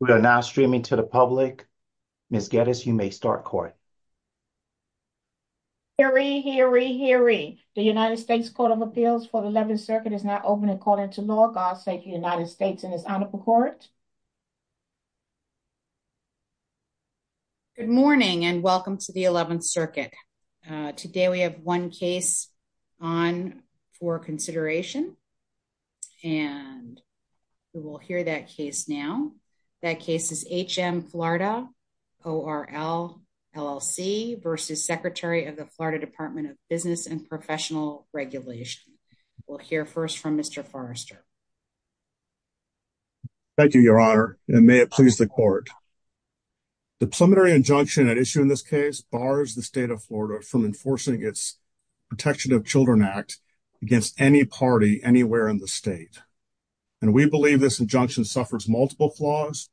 We are now streaming to the public. Ms. Gettis, you may start court. Hear ye, hear ye, hear ye. The United States Court of Appeals for the Eleventh Circuit is now open and calling to law. God save the United States and His Honorable Court. Good morning and welcome to the Eleventh Circuit. Today we have one case on for consideration and we will hear that case now. That case is HM Florida-ORL, LLC v. Secretary of the Florida Department of Business and Professional Regulation. We'll hear first from Mr. Forrester. Thank you, Your Honor, and may it please the court. The preliminary injunction at issue in this case bars the state of Florida from enforcing its Protection of Children Act against any party anywhere in the state. And we believe this injunction suffers multiple flaws,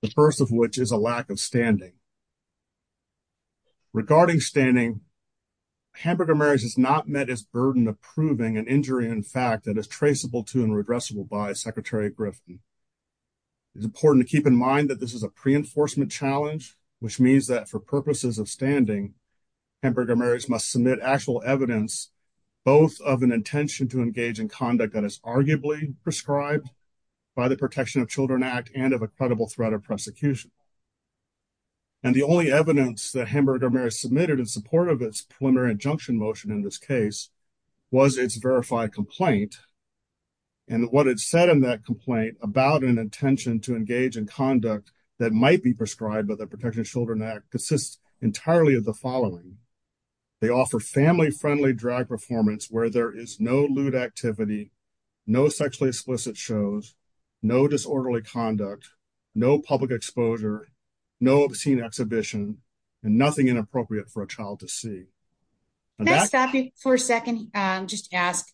the first of which is a lack of standing. Regarding standing, Hamburger Marys has not met its burden of proving an injury in fact that is traceable to and redressable by Secretary Griffin. It's important to keep in mind that this is a pre-enforcement challenge, which means that for purposes of standing, Hamburger Marys must submit actual evidence, both of an intention to engage in conduct that is arguably prescribed by the Protection of Children Act and of a credible threat of prosecution. And the only evidence that Hamburger Marys submitted in support of its preliminary injunction motion in this case was its verified complaint. And what it said in that complaint about an intention to engage in conduct that might be prescribed by the Protection of Children Act consists entirely of the following. They offer family-friendly drag performance where there is no lewd activity, no sexually explicit shows, no disorderly conduct, no public exposure, no obscene exhibition, and nothing inappropriate for a child to see. Can I stop you for a second and just ask,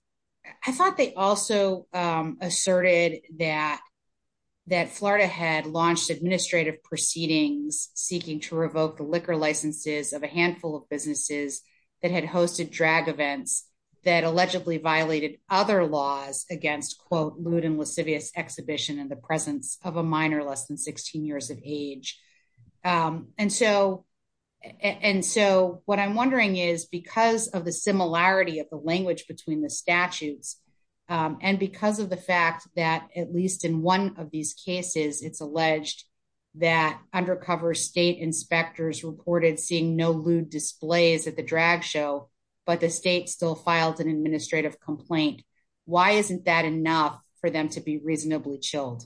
I thought they also asserted that Florida had launched administrative proceedings seeking to revoke the liquor licenses of a handful of businesses that had hosted drag events that allegedly violated other laws against quote lewd and lascivious exhibition in the presence of a minor less than 16 years of age. And so what I'm wondering is because of the similarity of the language between the statutes and because of the fact that at least in one of these cases, it's alleged that undercover state inspectors reported seeing no lewd displays at the drag show, but the state still filed an administrative complaint. Why isn't that enough for them to be reasonably chilled?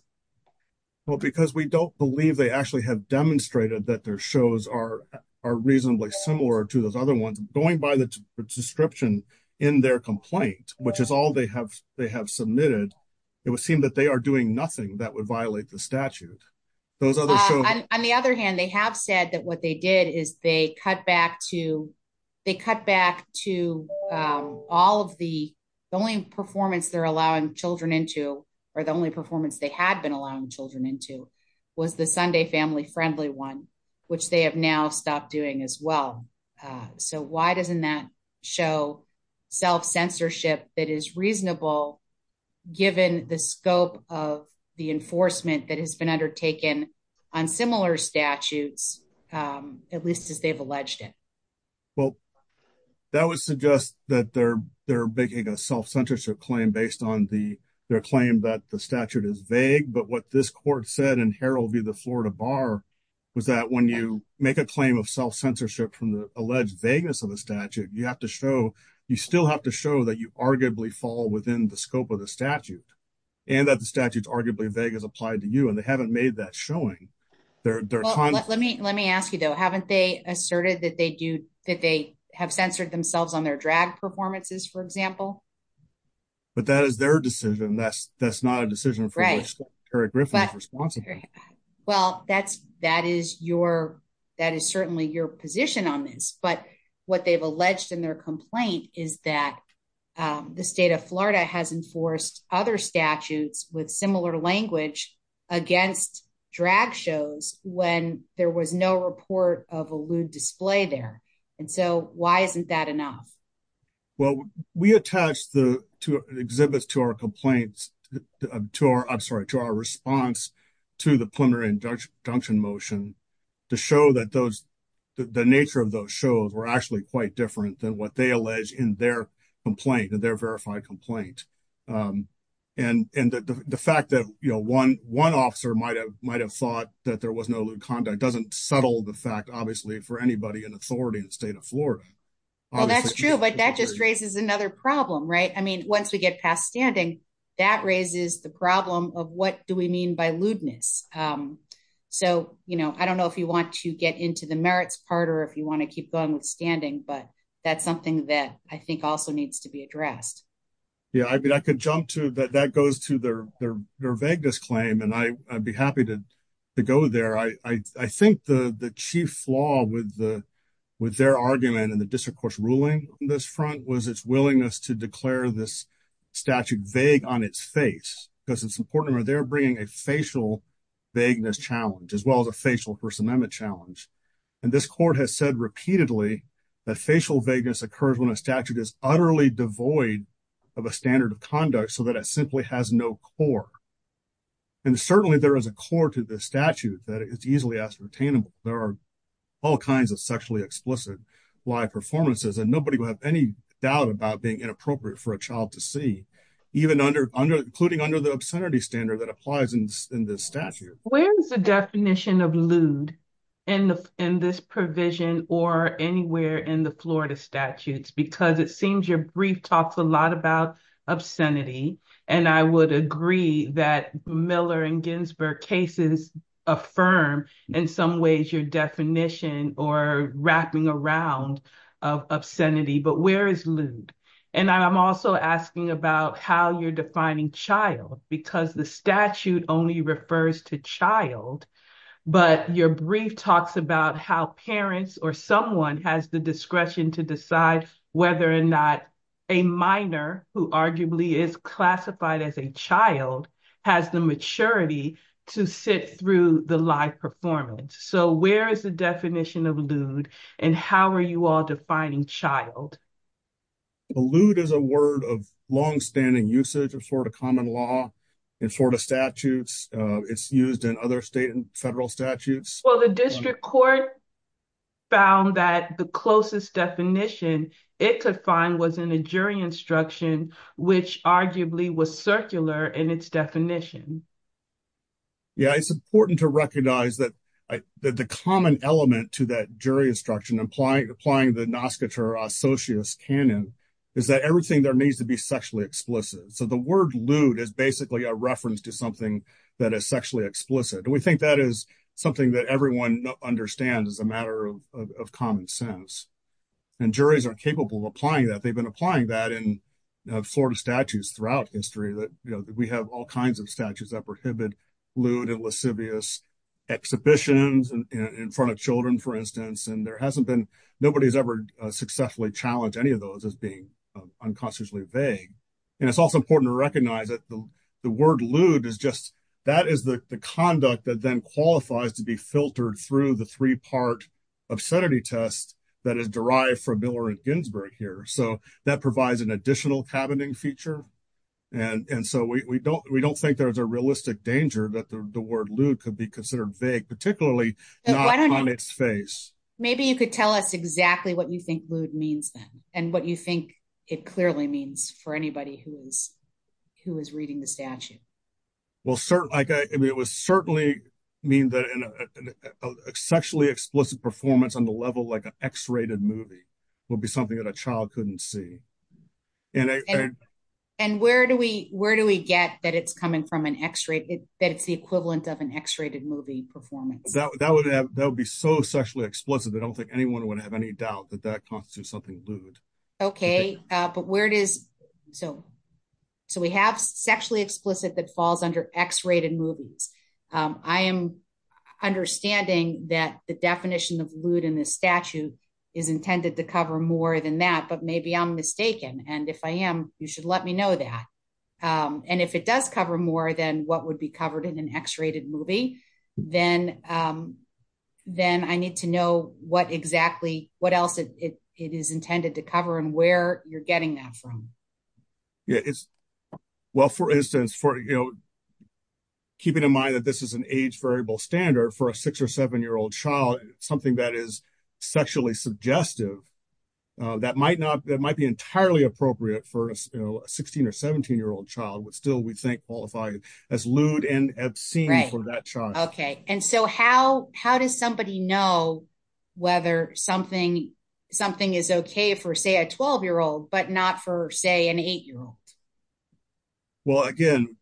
Well, because we don't believe they actually have demonstrated that their shows are reasonably similar to those other ones going by the description in their complaint, which is all they have submitted. It would seem that they are doing nothing that would violate the statute. On the other hand, they have said that what they did is they cut back to all of the only performance they're allowing children into or the only performance they had been allowing children into was the Sunday family friendly one, which they have now stopped doing as well. So why doesn't that show self-censorship that is reasonable, given the scope of the enforcement that has been undertaken on similar statutes, at least as they've alleged it? Well, that would suggest that they're making a self-censorship claim based on their claim that the statute is vague. But what this court said in Herald via the Florida Bar was that when you make a claim of self-censorship from the alleged vagueness of the statute, you still have to show that you arguably fall within the scope of the statute, and that the statute's arguably vague as applied to you. And they haven't made that showing. Let me ask you, though, haven't they asserted that they have censored themselves on their drag performances, for example? But that is their decision. That's not a decision for which Kerry Griffin is responsible. Well, that is certainly your position on this. But what they've alleged in their complaint is that the state of Florida has enforced other statutes with similar language against drag shows when there was no report of a lewd display there. And so why isn't that enough? Well, we attached the exhibits to our complaints, I'm sorry, to our response to the preliminary injunction motion to show that the nature of those shows were actually quite different than what they allege in their complaint, in their verified complaint. And the fact that one officer might have thought that there was no lewd conduct doesn't settle the fact, obviously, for anybody in authority in the state of Florida. Well, that's true. But that just raises another problem, right? I mean, once we get past standing, that raises the problem of what do we mean by lewdness? So, you know, I don't know if you want to get into the merits part or if you want to keep going with standing. But that's something that I think also needs to be addressed. Yeah, I mean, I could jump to that that goes to their vagueness claim. And I'd be happy to go there. I think the chief flaw with their argument and the district court's ruling on this front was its willingness to declare this statute vague on its face, because it's important where they're bringing a facial vagueness challenge as well as a facial First Amendment challenge. And this court has said repeatedly that facial vagueness occurs when a statute is utterly devoid of a standard of conduct so that it simply has no core. And certainly there is a core to the statute that is easily ascertainable. There are all kinds of sexually explicit live performances, and nobody will have any doubt about being inappropriate for a child to see, even under including under the obscenity standard that applies in this statute. Where is the definition of lewd in this provision or anywhere in the Florida statutes? Because it your brief talks a lot about obscenity. And I would agree that Miller and Ginsburg cases affirm in some ways your definition or wrapping around obscenity, but where is lewd? And I'm also asking about how you're defining child because the statute only refers to child. But your brief talks about how parents or someone has the discretion to decide whether or not a minor, who arguably is classified as a child, has the maturity to sit through the live performance. So where is the definition of lewd? And how are you all defining child? Lewd is a word of longstanding usage of Florida common law and Florida statutes. It's used in state and federal statutes. Well, the district court found that the closest definition it could find was in a jury instruction, which arguably was circular in its definition. Yeah, it's important to recognize that the common element to that jury instruction, applying the Noskiter Associates canon, is that everything there needs to be sexually explicit. So the word lewd is basically a reference to something that is sexually explicit. And we think that is something that everyone understands as a matter of common sense. And juries are capable of applying that. They've been applying that in Florida statutes throughout history, that we have all kinds of statutes that prohibit lewd and lascivious exhibitions in front of children, for instance. And nobody's ever successfully challenged any of those as being unconsciously vague. And it's also important to recognize that the word lewd is just, that is the conduct that then qualifies to be filtered through the three-part obscenity test that is derived from Miller and Ginsberg here. So that provides an additional cabining feature. And so we don't think there's a realistic danger that the word lewd could be considered vague, particularly not on its face. Maybe you could tell us exactly what you think lewd means then, and what you think it clearly means for anybody who is reading the statute. Well, it would certainly mean that a sexually explicit performance on the level like an X-rated movie would be something that a child couldn't see. And where do we get that it's coming from an X-rate, that it's the equivalent of an X-rated movie performance? That would be so sexually explicit, I don't think anyone would have any doubt that that constitutes something lewd. Okay, but where it is, so we have sexually explicit that falls under X-rated movies. I am understanding that the definition of lewd in this statute is intended to cover more than that, but maybe I'm mistaken. And if I am, you should let me know that. And if it does cover more than what would be covered in an X-rated movie, then I need to know what exactly, what and where you're getting that from. Well, for instance, keeping in mind that this is an age variable standard for a six or seven-year-old child, something that is sexually suggestive, that might be entirely appropriate for a 16 or 17-year-old child, but still we think qualified as lewd and obscene for that child. Okay, and so how does somebody know whether something is okay for say a 12-year-old, but not for say an eight-year-old? Well, again,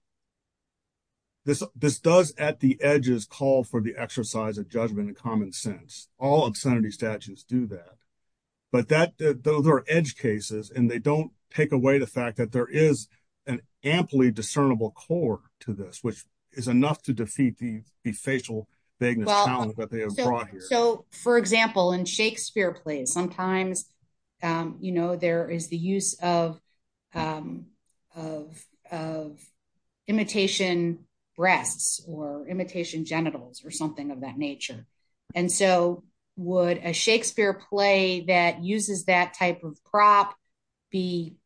this does at the edges call for the exercise of judgment and common sense. All obscenity statutes do that, but those are edge cases and they don't take away the fact that there is an amply discernible core to this, which is enough to defeat the facial vagueness that they have brought here. For example, in Shakespeare plays, sometimes there is the use of imitation breasts or imitation genitals or something of that nature. And so would a Shakespeare play that uses that type of prop, if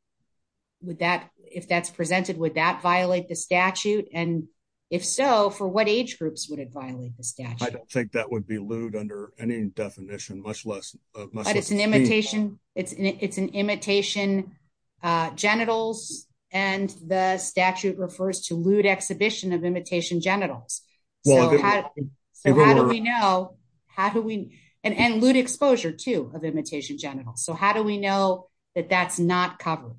that's presented, would that violate the statute? And if so, for what age would it violate the statute? I don't think that would be lewd under any definition, much less- But it's an imitation genitals and the statute refers to lewd exhibition of imitation genitals. So how do we know? And lewd exposure too of imitation genitals. So how do we know that that's not covered?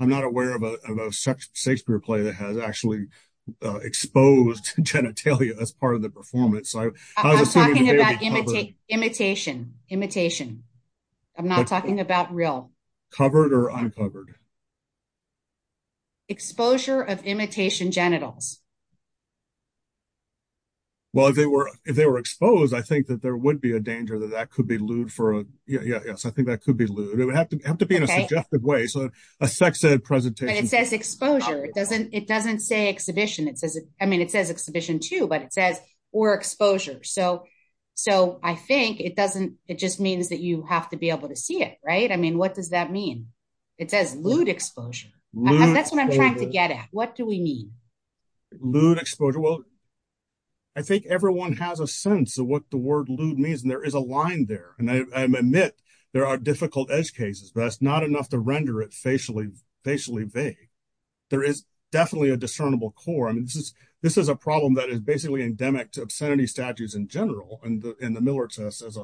I'm not aware of a Shakespeare play that has actually exposed genitalia as part of the performance. So I was assuming- I'm talking about imitation. Imitation. I'm not talking about real. Covered or uncovered? Exposure of imitation genitals. Well, if they were exposed, I think that there would be a danger that that could be lewd for, yeah, yes, I think that could be lewd. It would have to be in a suggestive way. So a sex ed presentation- But it says exposure. It doesn't say exhibition. I mean, it says exhibition too, but it says or exposure. So I think it just means that you have to be able to see it, right? I mean, what does that mean? It says lewd exposure. That's what I'm trying to get at. What do we mean? Lewd exposure. Well, I think everyone has a sense of what the word lewd means and there is a line there. And I admit there are difficult edge cases, but that's not enough to render it facially vague. There is definitely a discernible core. I mean, this is a problem that is basically endemic to obscenity statues in general and the Miller test as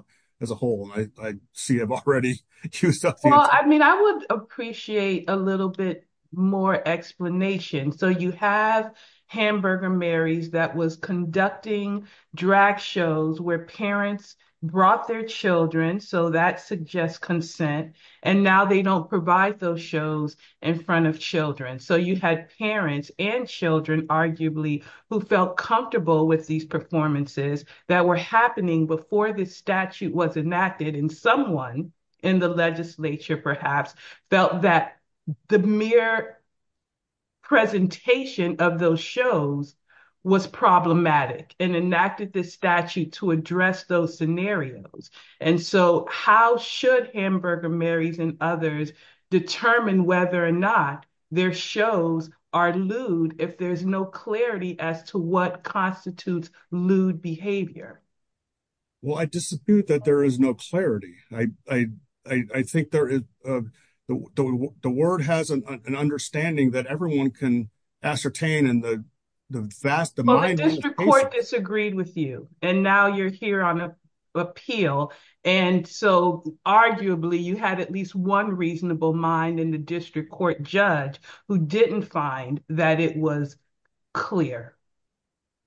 a whole. And I see I've already used up the- Well, I mean, I would appreciate a little bit more explanation. So you have Hamburger Mary's that was conducting drag shows where parents brought their children. So that suggests consent. And now they don't provide those shows in front of children. So you had parents and children arguably who felt comfortable with these performances that were happening before this statute was enacted and someone in the legislature perhaps felt that the mere presentation of those shows was problematic and enacted this statute to address those scenarios. And so how should Hamburger Mary's and others determine whether or not their shows are lewd if there's no clarity as to what constitutes lewd behavior? Well, I dispute that there is no clarity. I think the word has an understanding that everyone can ascertain and the vast- The district court disagreed with you and now you're here on appeal. And so arguably you had at least one reasonable mind in the district court judge who didn't find that it was clear.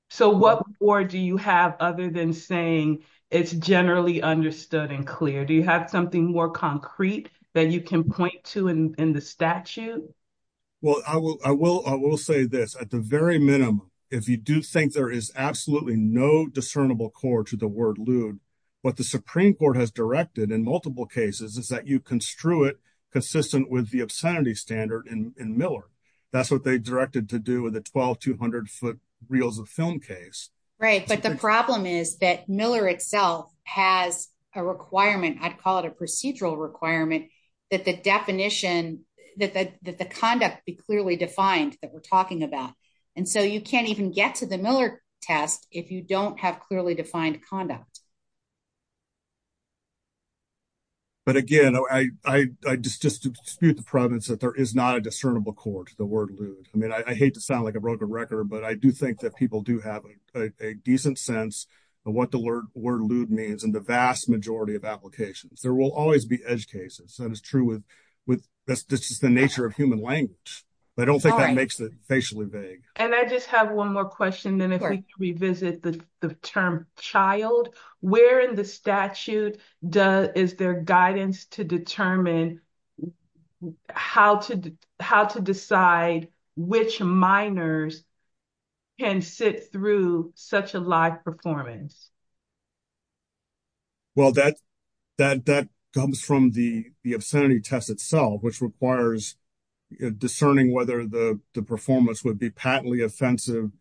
So what more do you have other than saying it's generally understood and clear? Do you have something more concrete that you can point to in the statute? Well, I will say this. At the very minimum, if you do think there is absolutely no discernible core to the word lewd, what the Supreme Court has directed in multiple cases is that you construe it consistent with the obscenity standard in Miller. That's what they directed to do with the 12 200 foot reels of film case. Right. But the problem is that Miller itself has a requirement. I'd call it a procedural requirement that the definition, that the conduct be clearly defined that we're talking about. And so you can't even get to the Miller test if you don't have clearly defined conduct. But again, I just dispute the province that there is not a discernible core to the word lewd. I mean, I hate to sound like a broken record, but I do think that people do have a decent sense of what the word lewd means in the vast majority of applications. There will always be edge cases. That is true with the nature of human language. But I don't think that makes it facially vague. And I just have one more question. Then if we revisit the term child, where in the statute is there guidance to determine how to decide which minors can sit through such a live performance? Well, that comes from the obscenity test itself, which requires discerning whether the performance would be patently offensive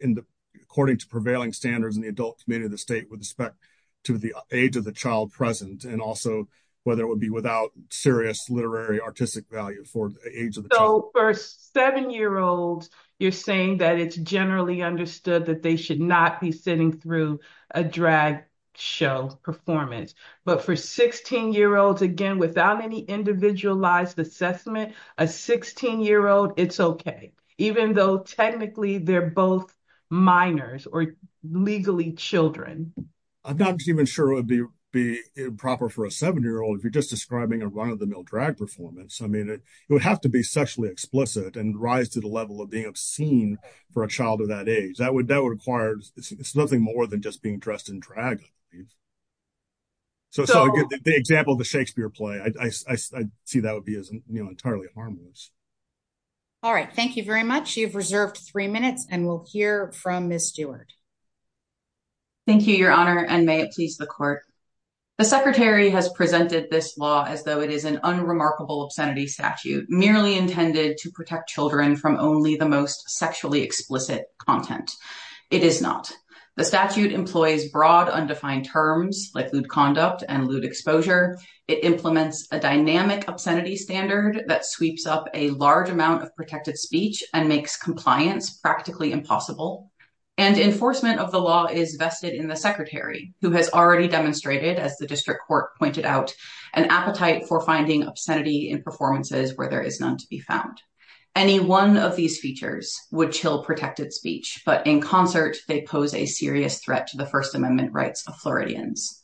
according to prevailing standards in the adult community of the state with respect to the age of the child present, and also whether it would be without serious literary artistic value for the age of the child. For seven-year-olds, you're saying that it's generally understood that they should not be sitting through a drag show performance. But for 16-year-olds, again, without any individualized assessment, a 16-year-old, it's okay, even though technically they're both minors or legally children. I'm not even sure it would be improper for a seven-year-old if you're just describing a male drag performance. It would have to be sexually explicit and rise to the level of being obscene for a child of that age. That would require nothing more than just being dressed in drag. So the example of the Shakespeare play, I see that would be entirely harmless. All right. Thank you very much. You've reserved three minutes, and we'll hear from Ms. Stewart. Thank you, Your Honor, and may it please the Court. The Secretary has presented this law as though it is an unremarkable obscenity statute, merely intended to protect children from only the most sexually explicit content. It is not. The statute employs broad, undefined terms like lewd conduct and lewd exposure. It implements a dynamic obscenity standard that sweeps up a large amount of protected speech and makes compliance practically impossible. Enforcement of the law is vested in the Secretary, who has already demonstrated, as the District Court pointed out, an appetite for finding obscenity in performances where there is none to be found. Any one of these features would chill protected speech, but in concert they pose a serious threat to the First Amendment rights of Floridians.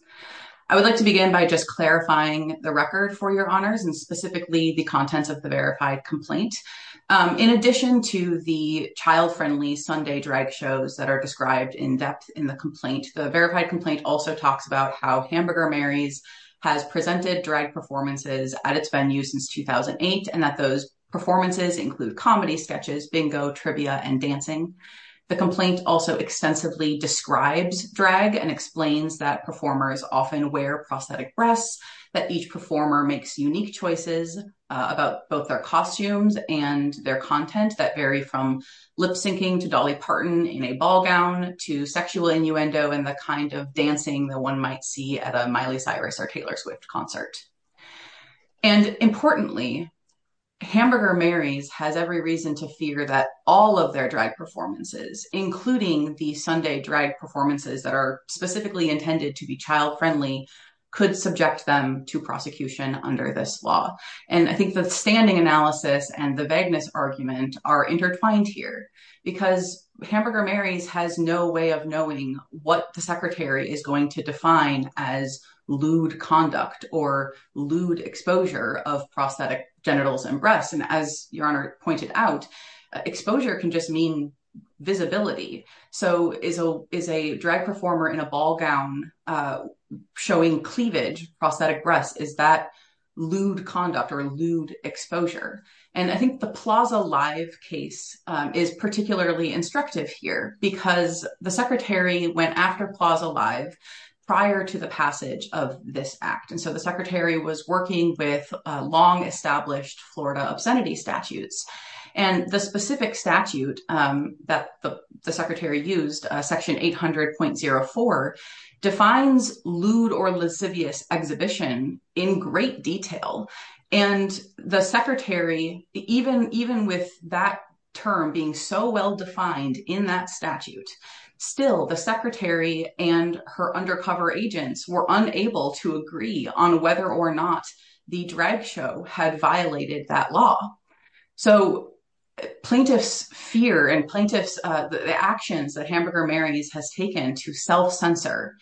I would like to begin by just clarifying the record for Your Honors and specifically the contents of the verified complaint. In addition to the child-friendly Sunday drag shows that are how Hamburger Mary's has presented drag performances at its venues since 2008, and that those performances include comedy sketches, bingo, trivia, and dancing, the complaint also extensively describes drag and explains that performers often wear prosthetic breasts, that each performer makes unique choices about both their costumes and their content that vary from lip-syncing to Dolly Parton in a ball gown to sexual innuendo and the kind of dancing that one might see at a Miley Cyrus or Taylor Swift concert. And importantly, Hamburger Mary's has every reason to fear that all of their drag performances, including the Sunday drag performances that are specifically intended to be child-friendly, could subject them to prosecution under this law. And I think the standing analysis and the vagueness argument are intertwined here because Hamburger Mary's has no way of knowing what the secretary is going to define as lewd conduct or lewd exposure of prosthetic genitals and breasts. And as Your Honor pointed out, exposure can just mean visibility. So is a drag performer in a ball gown showing cleavage, prosthetic breasts, is that lewd conduct or lewd exposure? And I think the Plaza Live case is particularly instructive here because the secretary went after Plaza Live prior to the passage of this act. And so the secretary was working with long-established Florida obscenity statutes. And the specific statute that the secretary used, section 800.04, defines lewd or lascivious exhibition in great detail. And the secretary, even with that term being so well-defined in that statute, still the secretary and her undercover agents were unable to agree on whether or not the drag show had violated that law. So plaintiff's fear and plaintiff's actions that Hamburger Mary's has taken to self-censor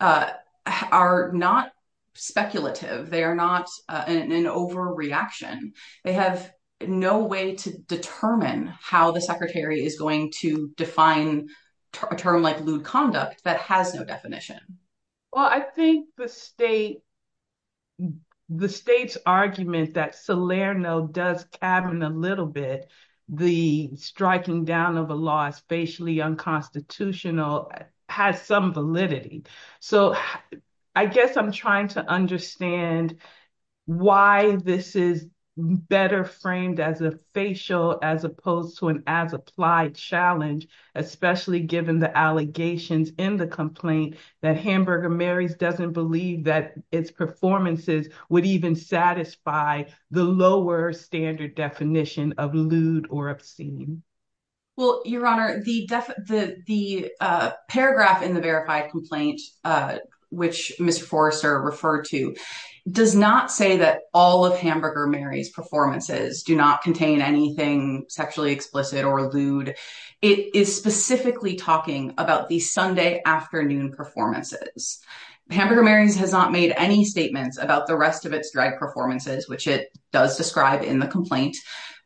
are not speculative. They are not an overreaction. They have no way to determine how the secretary is going to define a term like lewd conduct that has no definition. Well, I think the state's argument that Salerno does cabin a little bit, the striking down of a law as facially unconstitutional has some validity. So I guess I'm trying to understand why this is better framed as a facial as opposed to an as-applied challenge, especially given the allegations in the complaint that Hamburger Mary's doesn't believe that its performances would even satisfy the lower standard definition of lewd or obscene. Well, Your Honor, the paragraph in the verified complaint, which Mr. Forrester referred to, does not say that all of Hamburger Mary's performances do not contain anything sexually explicit or lewd. It is specifically talking about the Sunday afternoon performances. Hamburger Mary's has not made any statements about the rest of its drag performances, which it does describe in the complaint,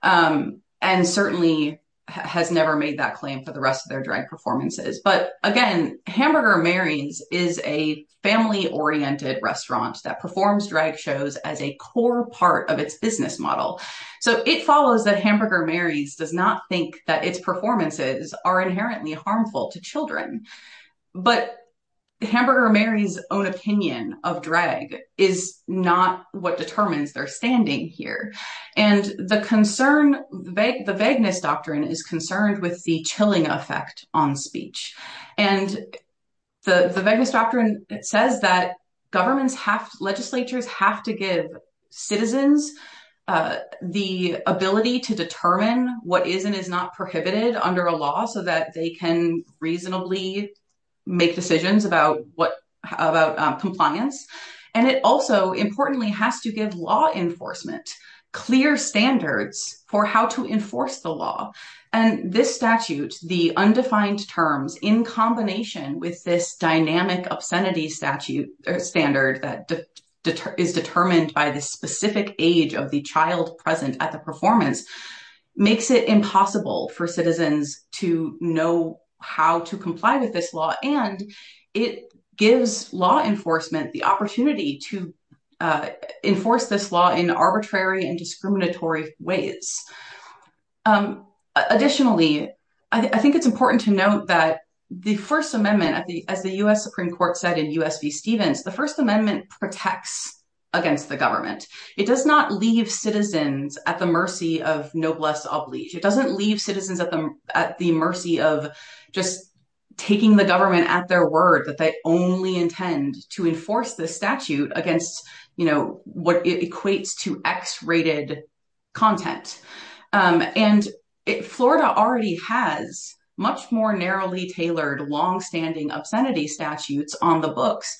and certainly has never made that claim for the rest of their drag performances. But again, Hamburger Mary's is a family-oriented restaurant that performs drag shows as a core part of its business model. So it follows that Hamburger Mary's does not think that its performances are inherently harmful to children. But Hamburger Mary's own opinion of drag is not what determines their standing here. And the concern, the vagueness doctrine is concerned with the chilling effect on speech. And the vagueness doctrine says that governments have, legislatures have to give citizens the ability to determine what is and is not prohibited under a law so that they can reasonably make decisions about compliance. And it also, importantly, has to give law enforcement clear standards for how to enforce the law. And this statute, the undefined terms, in combination with this dynamic obscenity standard that is determined by the specific age of the child present at the performance, makes it impossible for citizens to know how to comply with this law. And it gives law enforcement the opportunity to enforce this law in arbitrary and discriminatory ways. Additionally, I think it's important to note that the First Amendment, as the U.S. Supreme Court said in U.S. v. Stevens, the First Amendment protects against the government. It does not leave citizens at the mercy of noblesse oblige. It doesn't leave citizens at the mercy of just taking the government at their word that they only intend to enforce the statute against what equates to X-rated content. And Florida already has much more narrowly tailored, longstanding obscenity statutes on the books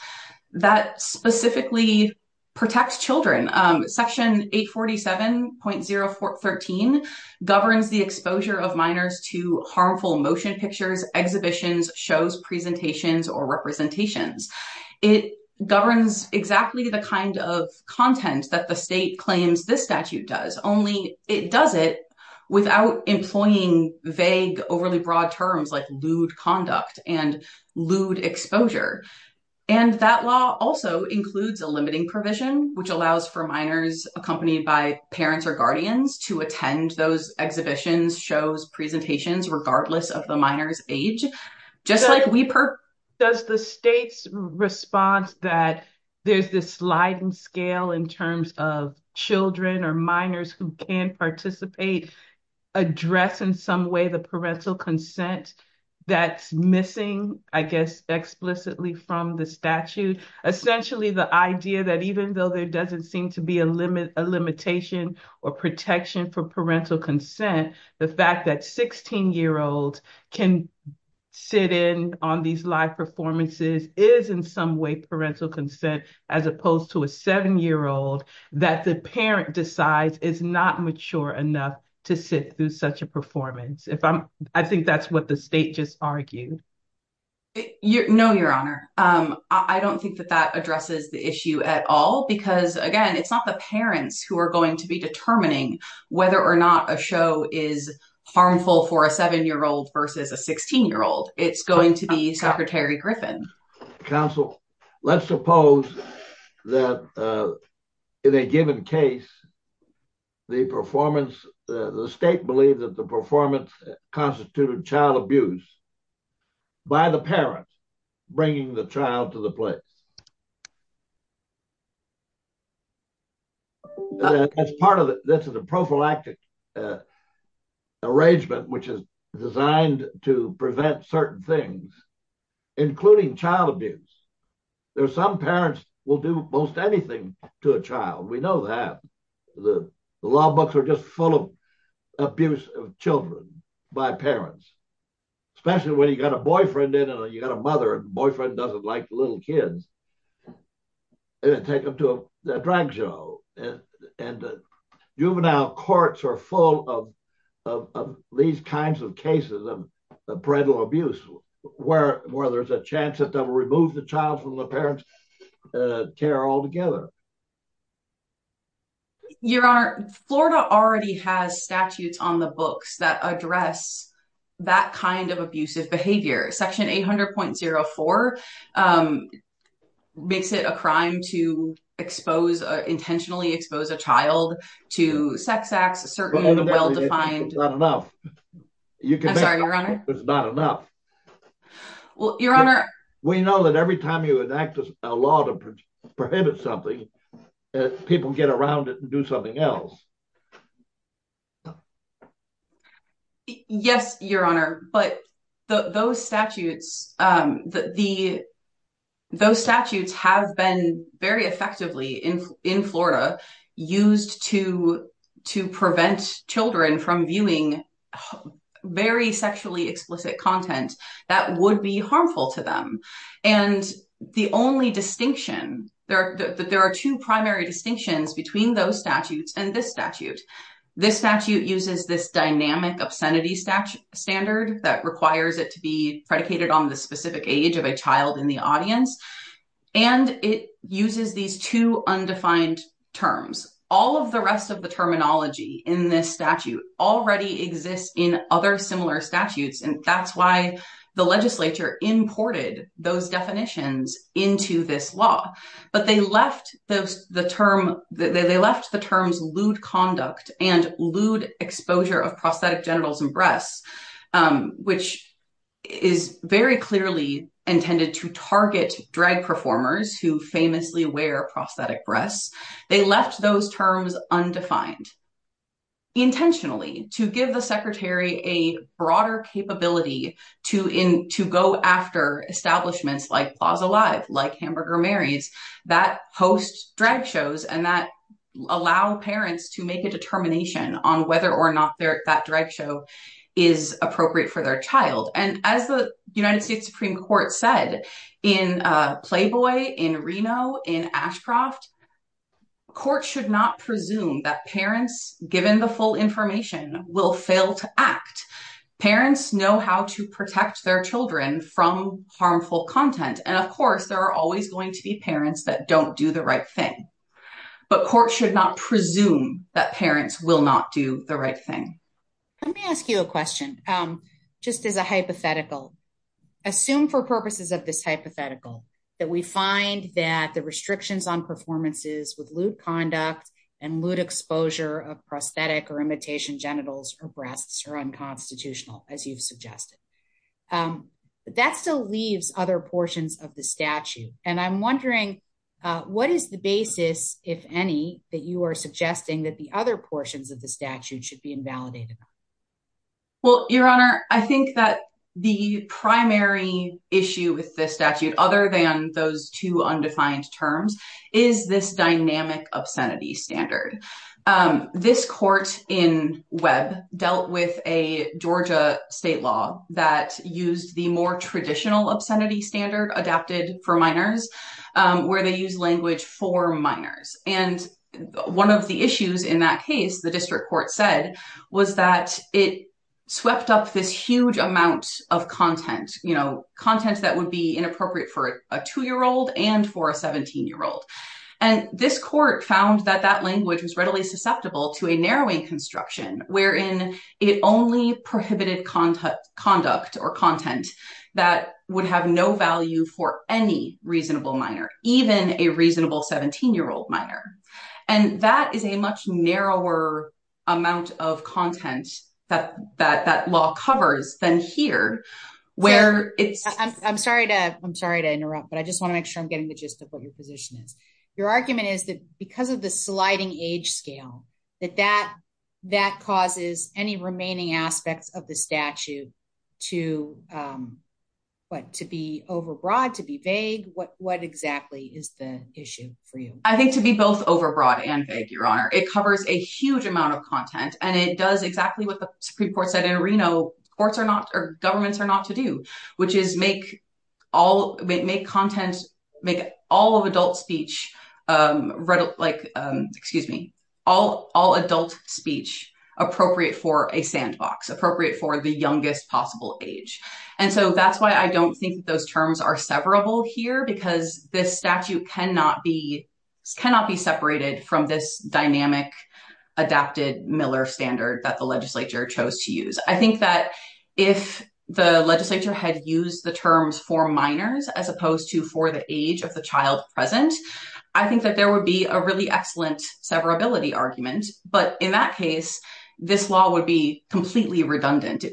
that specifically protect children. Section 847.013 governs the exposure of minors to harmful motion pictures, exhibitions, shows, presentations, or representations. It governs exactly the kind of content that the state claims this statute does, only it does it without employing vague, overly broad terms like lewd conduct and lewd exposure. And that law also includes a limiting provision, which allows for minors accompanied by parents or guardians to attend those exhibitions, shows, presentations, regardless of the minor's age, just like we per- Does the state's response that there's this sliding scale in terms of children or minors who can participate address in some way the parental consent that's missing, I guess, explicitly from the statute? Essentially the idea that even though there doesn't seem to be a limitation or protection for parental consent, the fact that 16-year-olds can sit in on these live performances is in some way parental consent, as opposed to a seven-year-old that the parent decides is not mature enough to sit through such a performance. If I'm- I think that's what the state just argued. No, your honor. I don't think that that addresses the issue at all, because again, it's not the parents who are going to be determining whether or not a show is harmful for a seven-year-old versus a 16-year-old. It's going to be Secretary Griffin. Counsel, let's suppose that in a given case, the performance- the state believed that the performance constituted child abuse by the parent bringing the child to the place. As part of it, this is a prophylactic arrangement which is designed to prevent certain things, including child abuse. There are some parents will do most anything to a child. We know that. The law books are just full of abuse of children by parents, especially when you've got a boyfriend in and you've got a mother and the boyfriend doesn't like the little kids. Take them to a juvenile. Juvenile courts are full of these kinds of cases of parental abuse where there's a chance that they'll remove the child from the parent's care altogether. Your honor, Florida already has statutes on the books that address that kind of abusive behavior. Section 800.04 makes it a crime to intentionally expose a child to sex acts, a certain well-defined- It's not enough. I'm sorry, your honor? It's not enough. Well, your honor- We know that every time you enact a law to prohibit something, people get around it and do something else. Yes, your honor, but those statutes have been very effectively in Florida used to prevent children from viewing very sexually explicit content that would be harmful to them. And the only distinction, there are two primary distinctions between those statutes and this statute. This statute uses this dynamic obscenity standard that requires it to be predicated on the specific age of a child in the audience. And it uses these two undefined terms. All of the rest of the terminology in this statute already exists in other similar statutes. And that's why the legislature imported those definitions into this law. But they left the term- They left the terms lewd conduct and lewd exposure of prosthetic genitals and breasts, which is very clearly intended to target drag performers who famously wear prosthetic breasts. They left those terms undefined. Intentionally to give the secretary a broader capability to go after establishments like Plaza Live, like Hamburger Mary's that host drag shows and that allow parents to make a determination on whether or not that drag show is appropriate for their child. And as the United Courts should not presume that parents given the full information will fail to act. Parents know how to protect their children from harmful content. And of course, there are always going to be parents that don't do the right thing. But courts should not presume that parents will not do the right thing. Let me ask you a question, just as a hypothetical. Assume for purposes of this hypothetical, that we find that the restrictions on performances with lewd conduct and lewd exposure of prosthetic or imitation genitals or breasts are unconstitutional, as you've suggested. But that still leaves other portions of the statute. And I'm wondering, what is the basis, if any, that you are suggesting that the other portions of the statute should be invalidated? Well, Your Honor, I think that the primary issue with this statute, other than those two undefined terms, is this dynamic obscenity standard. This court in Webb dealt with a Georgia state law that used the more traditional obscenity standard adapted for minors, where they use language for minors. And one of the issues in that case, the district court said, was that it swept up this huge amount of content, you know, content that would be inappropriate for a two-year-old and for a 17-year-old. And this court found that that language was readily susceptible to a narrowing construction, wherein it only prohibited conduct or content that would have no value for any reasonable minor, even a reasonable 17-year-old minor. And that is a much narrower amount of content that law covers than here, where it's... I'm sorry to interrupt, but I just want to make sure I'm getting the gist of what your position is. Your argument is that because of the sliding age scale, that that causes any remaining aspects of the statute to be overbroad, to be vague. What exactly is the issue for you? I think to be both overbroad and vague, Your Honor. It covers a huge amount of content, and it does exactly what the Supreme Court said in Reno, courts are not, or governments are not to do, which is make all, make content, make all of adult speech, excuse me, all adult speech appropriate for a sandbox, appropriate for the youngest possible age. And so that's why I don't think those terms are severable here, because this statute cannot be separated from this dynamic, adapted Miller standard that the legislature chose to use. I think that if the legislature had used the terms for minors, as opposed to for the age of the child present, I think that there would be a really excellent severability argument. But in that case, this law would be completely contained.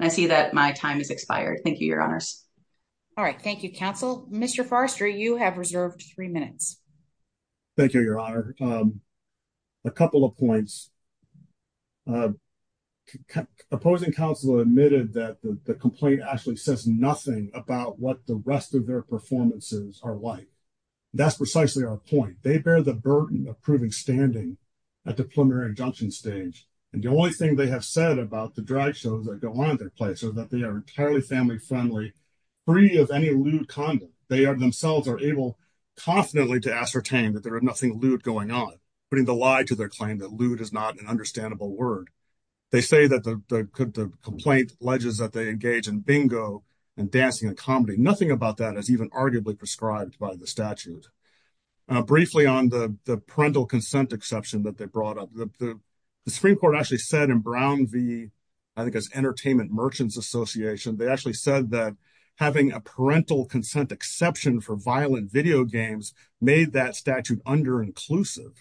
I see that my time has expired. Thank you, Your Honors. All right. Thank you, counsel. Mr. Forrester, you have reserved three minutes. Thank you, Your Honor. A couple of points. Opposing counsel admitted that the complaint actually says nothing about what the rest of their performances are like. That's precisely our point. They bear the burden of proving standing at the preliminary injunction stage. And the only thing they have said about the drag shows that go on at their place is that they are entirely family friendly, free of any lewd conduct. They are themselves are able confidently to ascertain that there is nothing lewd going on, putting the lie to their claim that lewd is not an understandable word. They say that the complaint alleges that they engage in bingo and dancing and comedy. Nothing about that is even arguably prescribed by the statute. Briefly on the parental consent exception that they brought up, the Supreme Court actually said in Brown v. I think it's Entertainment Merchants Association, they actually said that having a parental consent exception for violent video games made that statute underinclusive.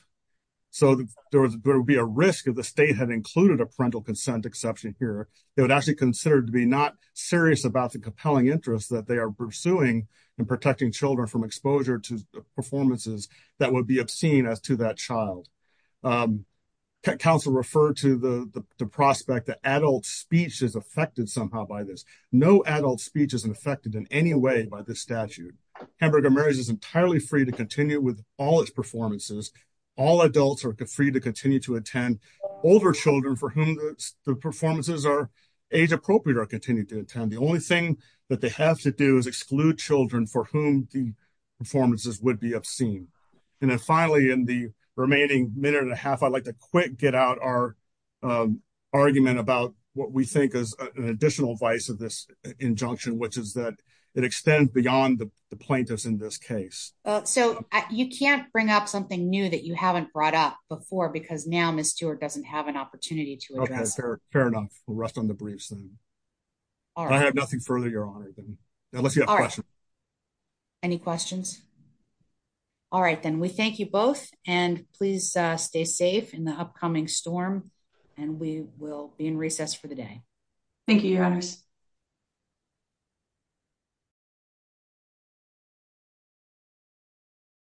So there would be a risk if the state had included a parental consent exception here. They would actually consider it to be not serious about the compelling interests that they are pursuing in protecting children from exposure to performances that would be obscene as to that child. Counsel referred to the prospect that adult speech is affected somehow by this. No adult speech is affected in any way by this statute. Hamburger Marriage is entirely free to continue with all its performances. All adults are free to continue to attend. Older children for whom the performances are age appropriate are continued to attend. The only thing that they have to do is performances would be obscene. And then finally in the remaining minute and a half, I'd like to quick get out our argument about what we think is an additional vice of this injunction, which is that it extends beyond the plaintiffs in this case. So you can't bring up something new that you haven't brought up before because now Ms. Stewart doesn't have an opportunity to address. Fair enough. We'll rest on the briefs then. I have nothing further your honor. Unless you have questions. Any questions? All right then. We thank you both and please stay safe in the upcoming storm and we will be in recess for the day. Thank you, your honors.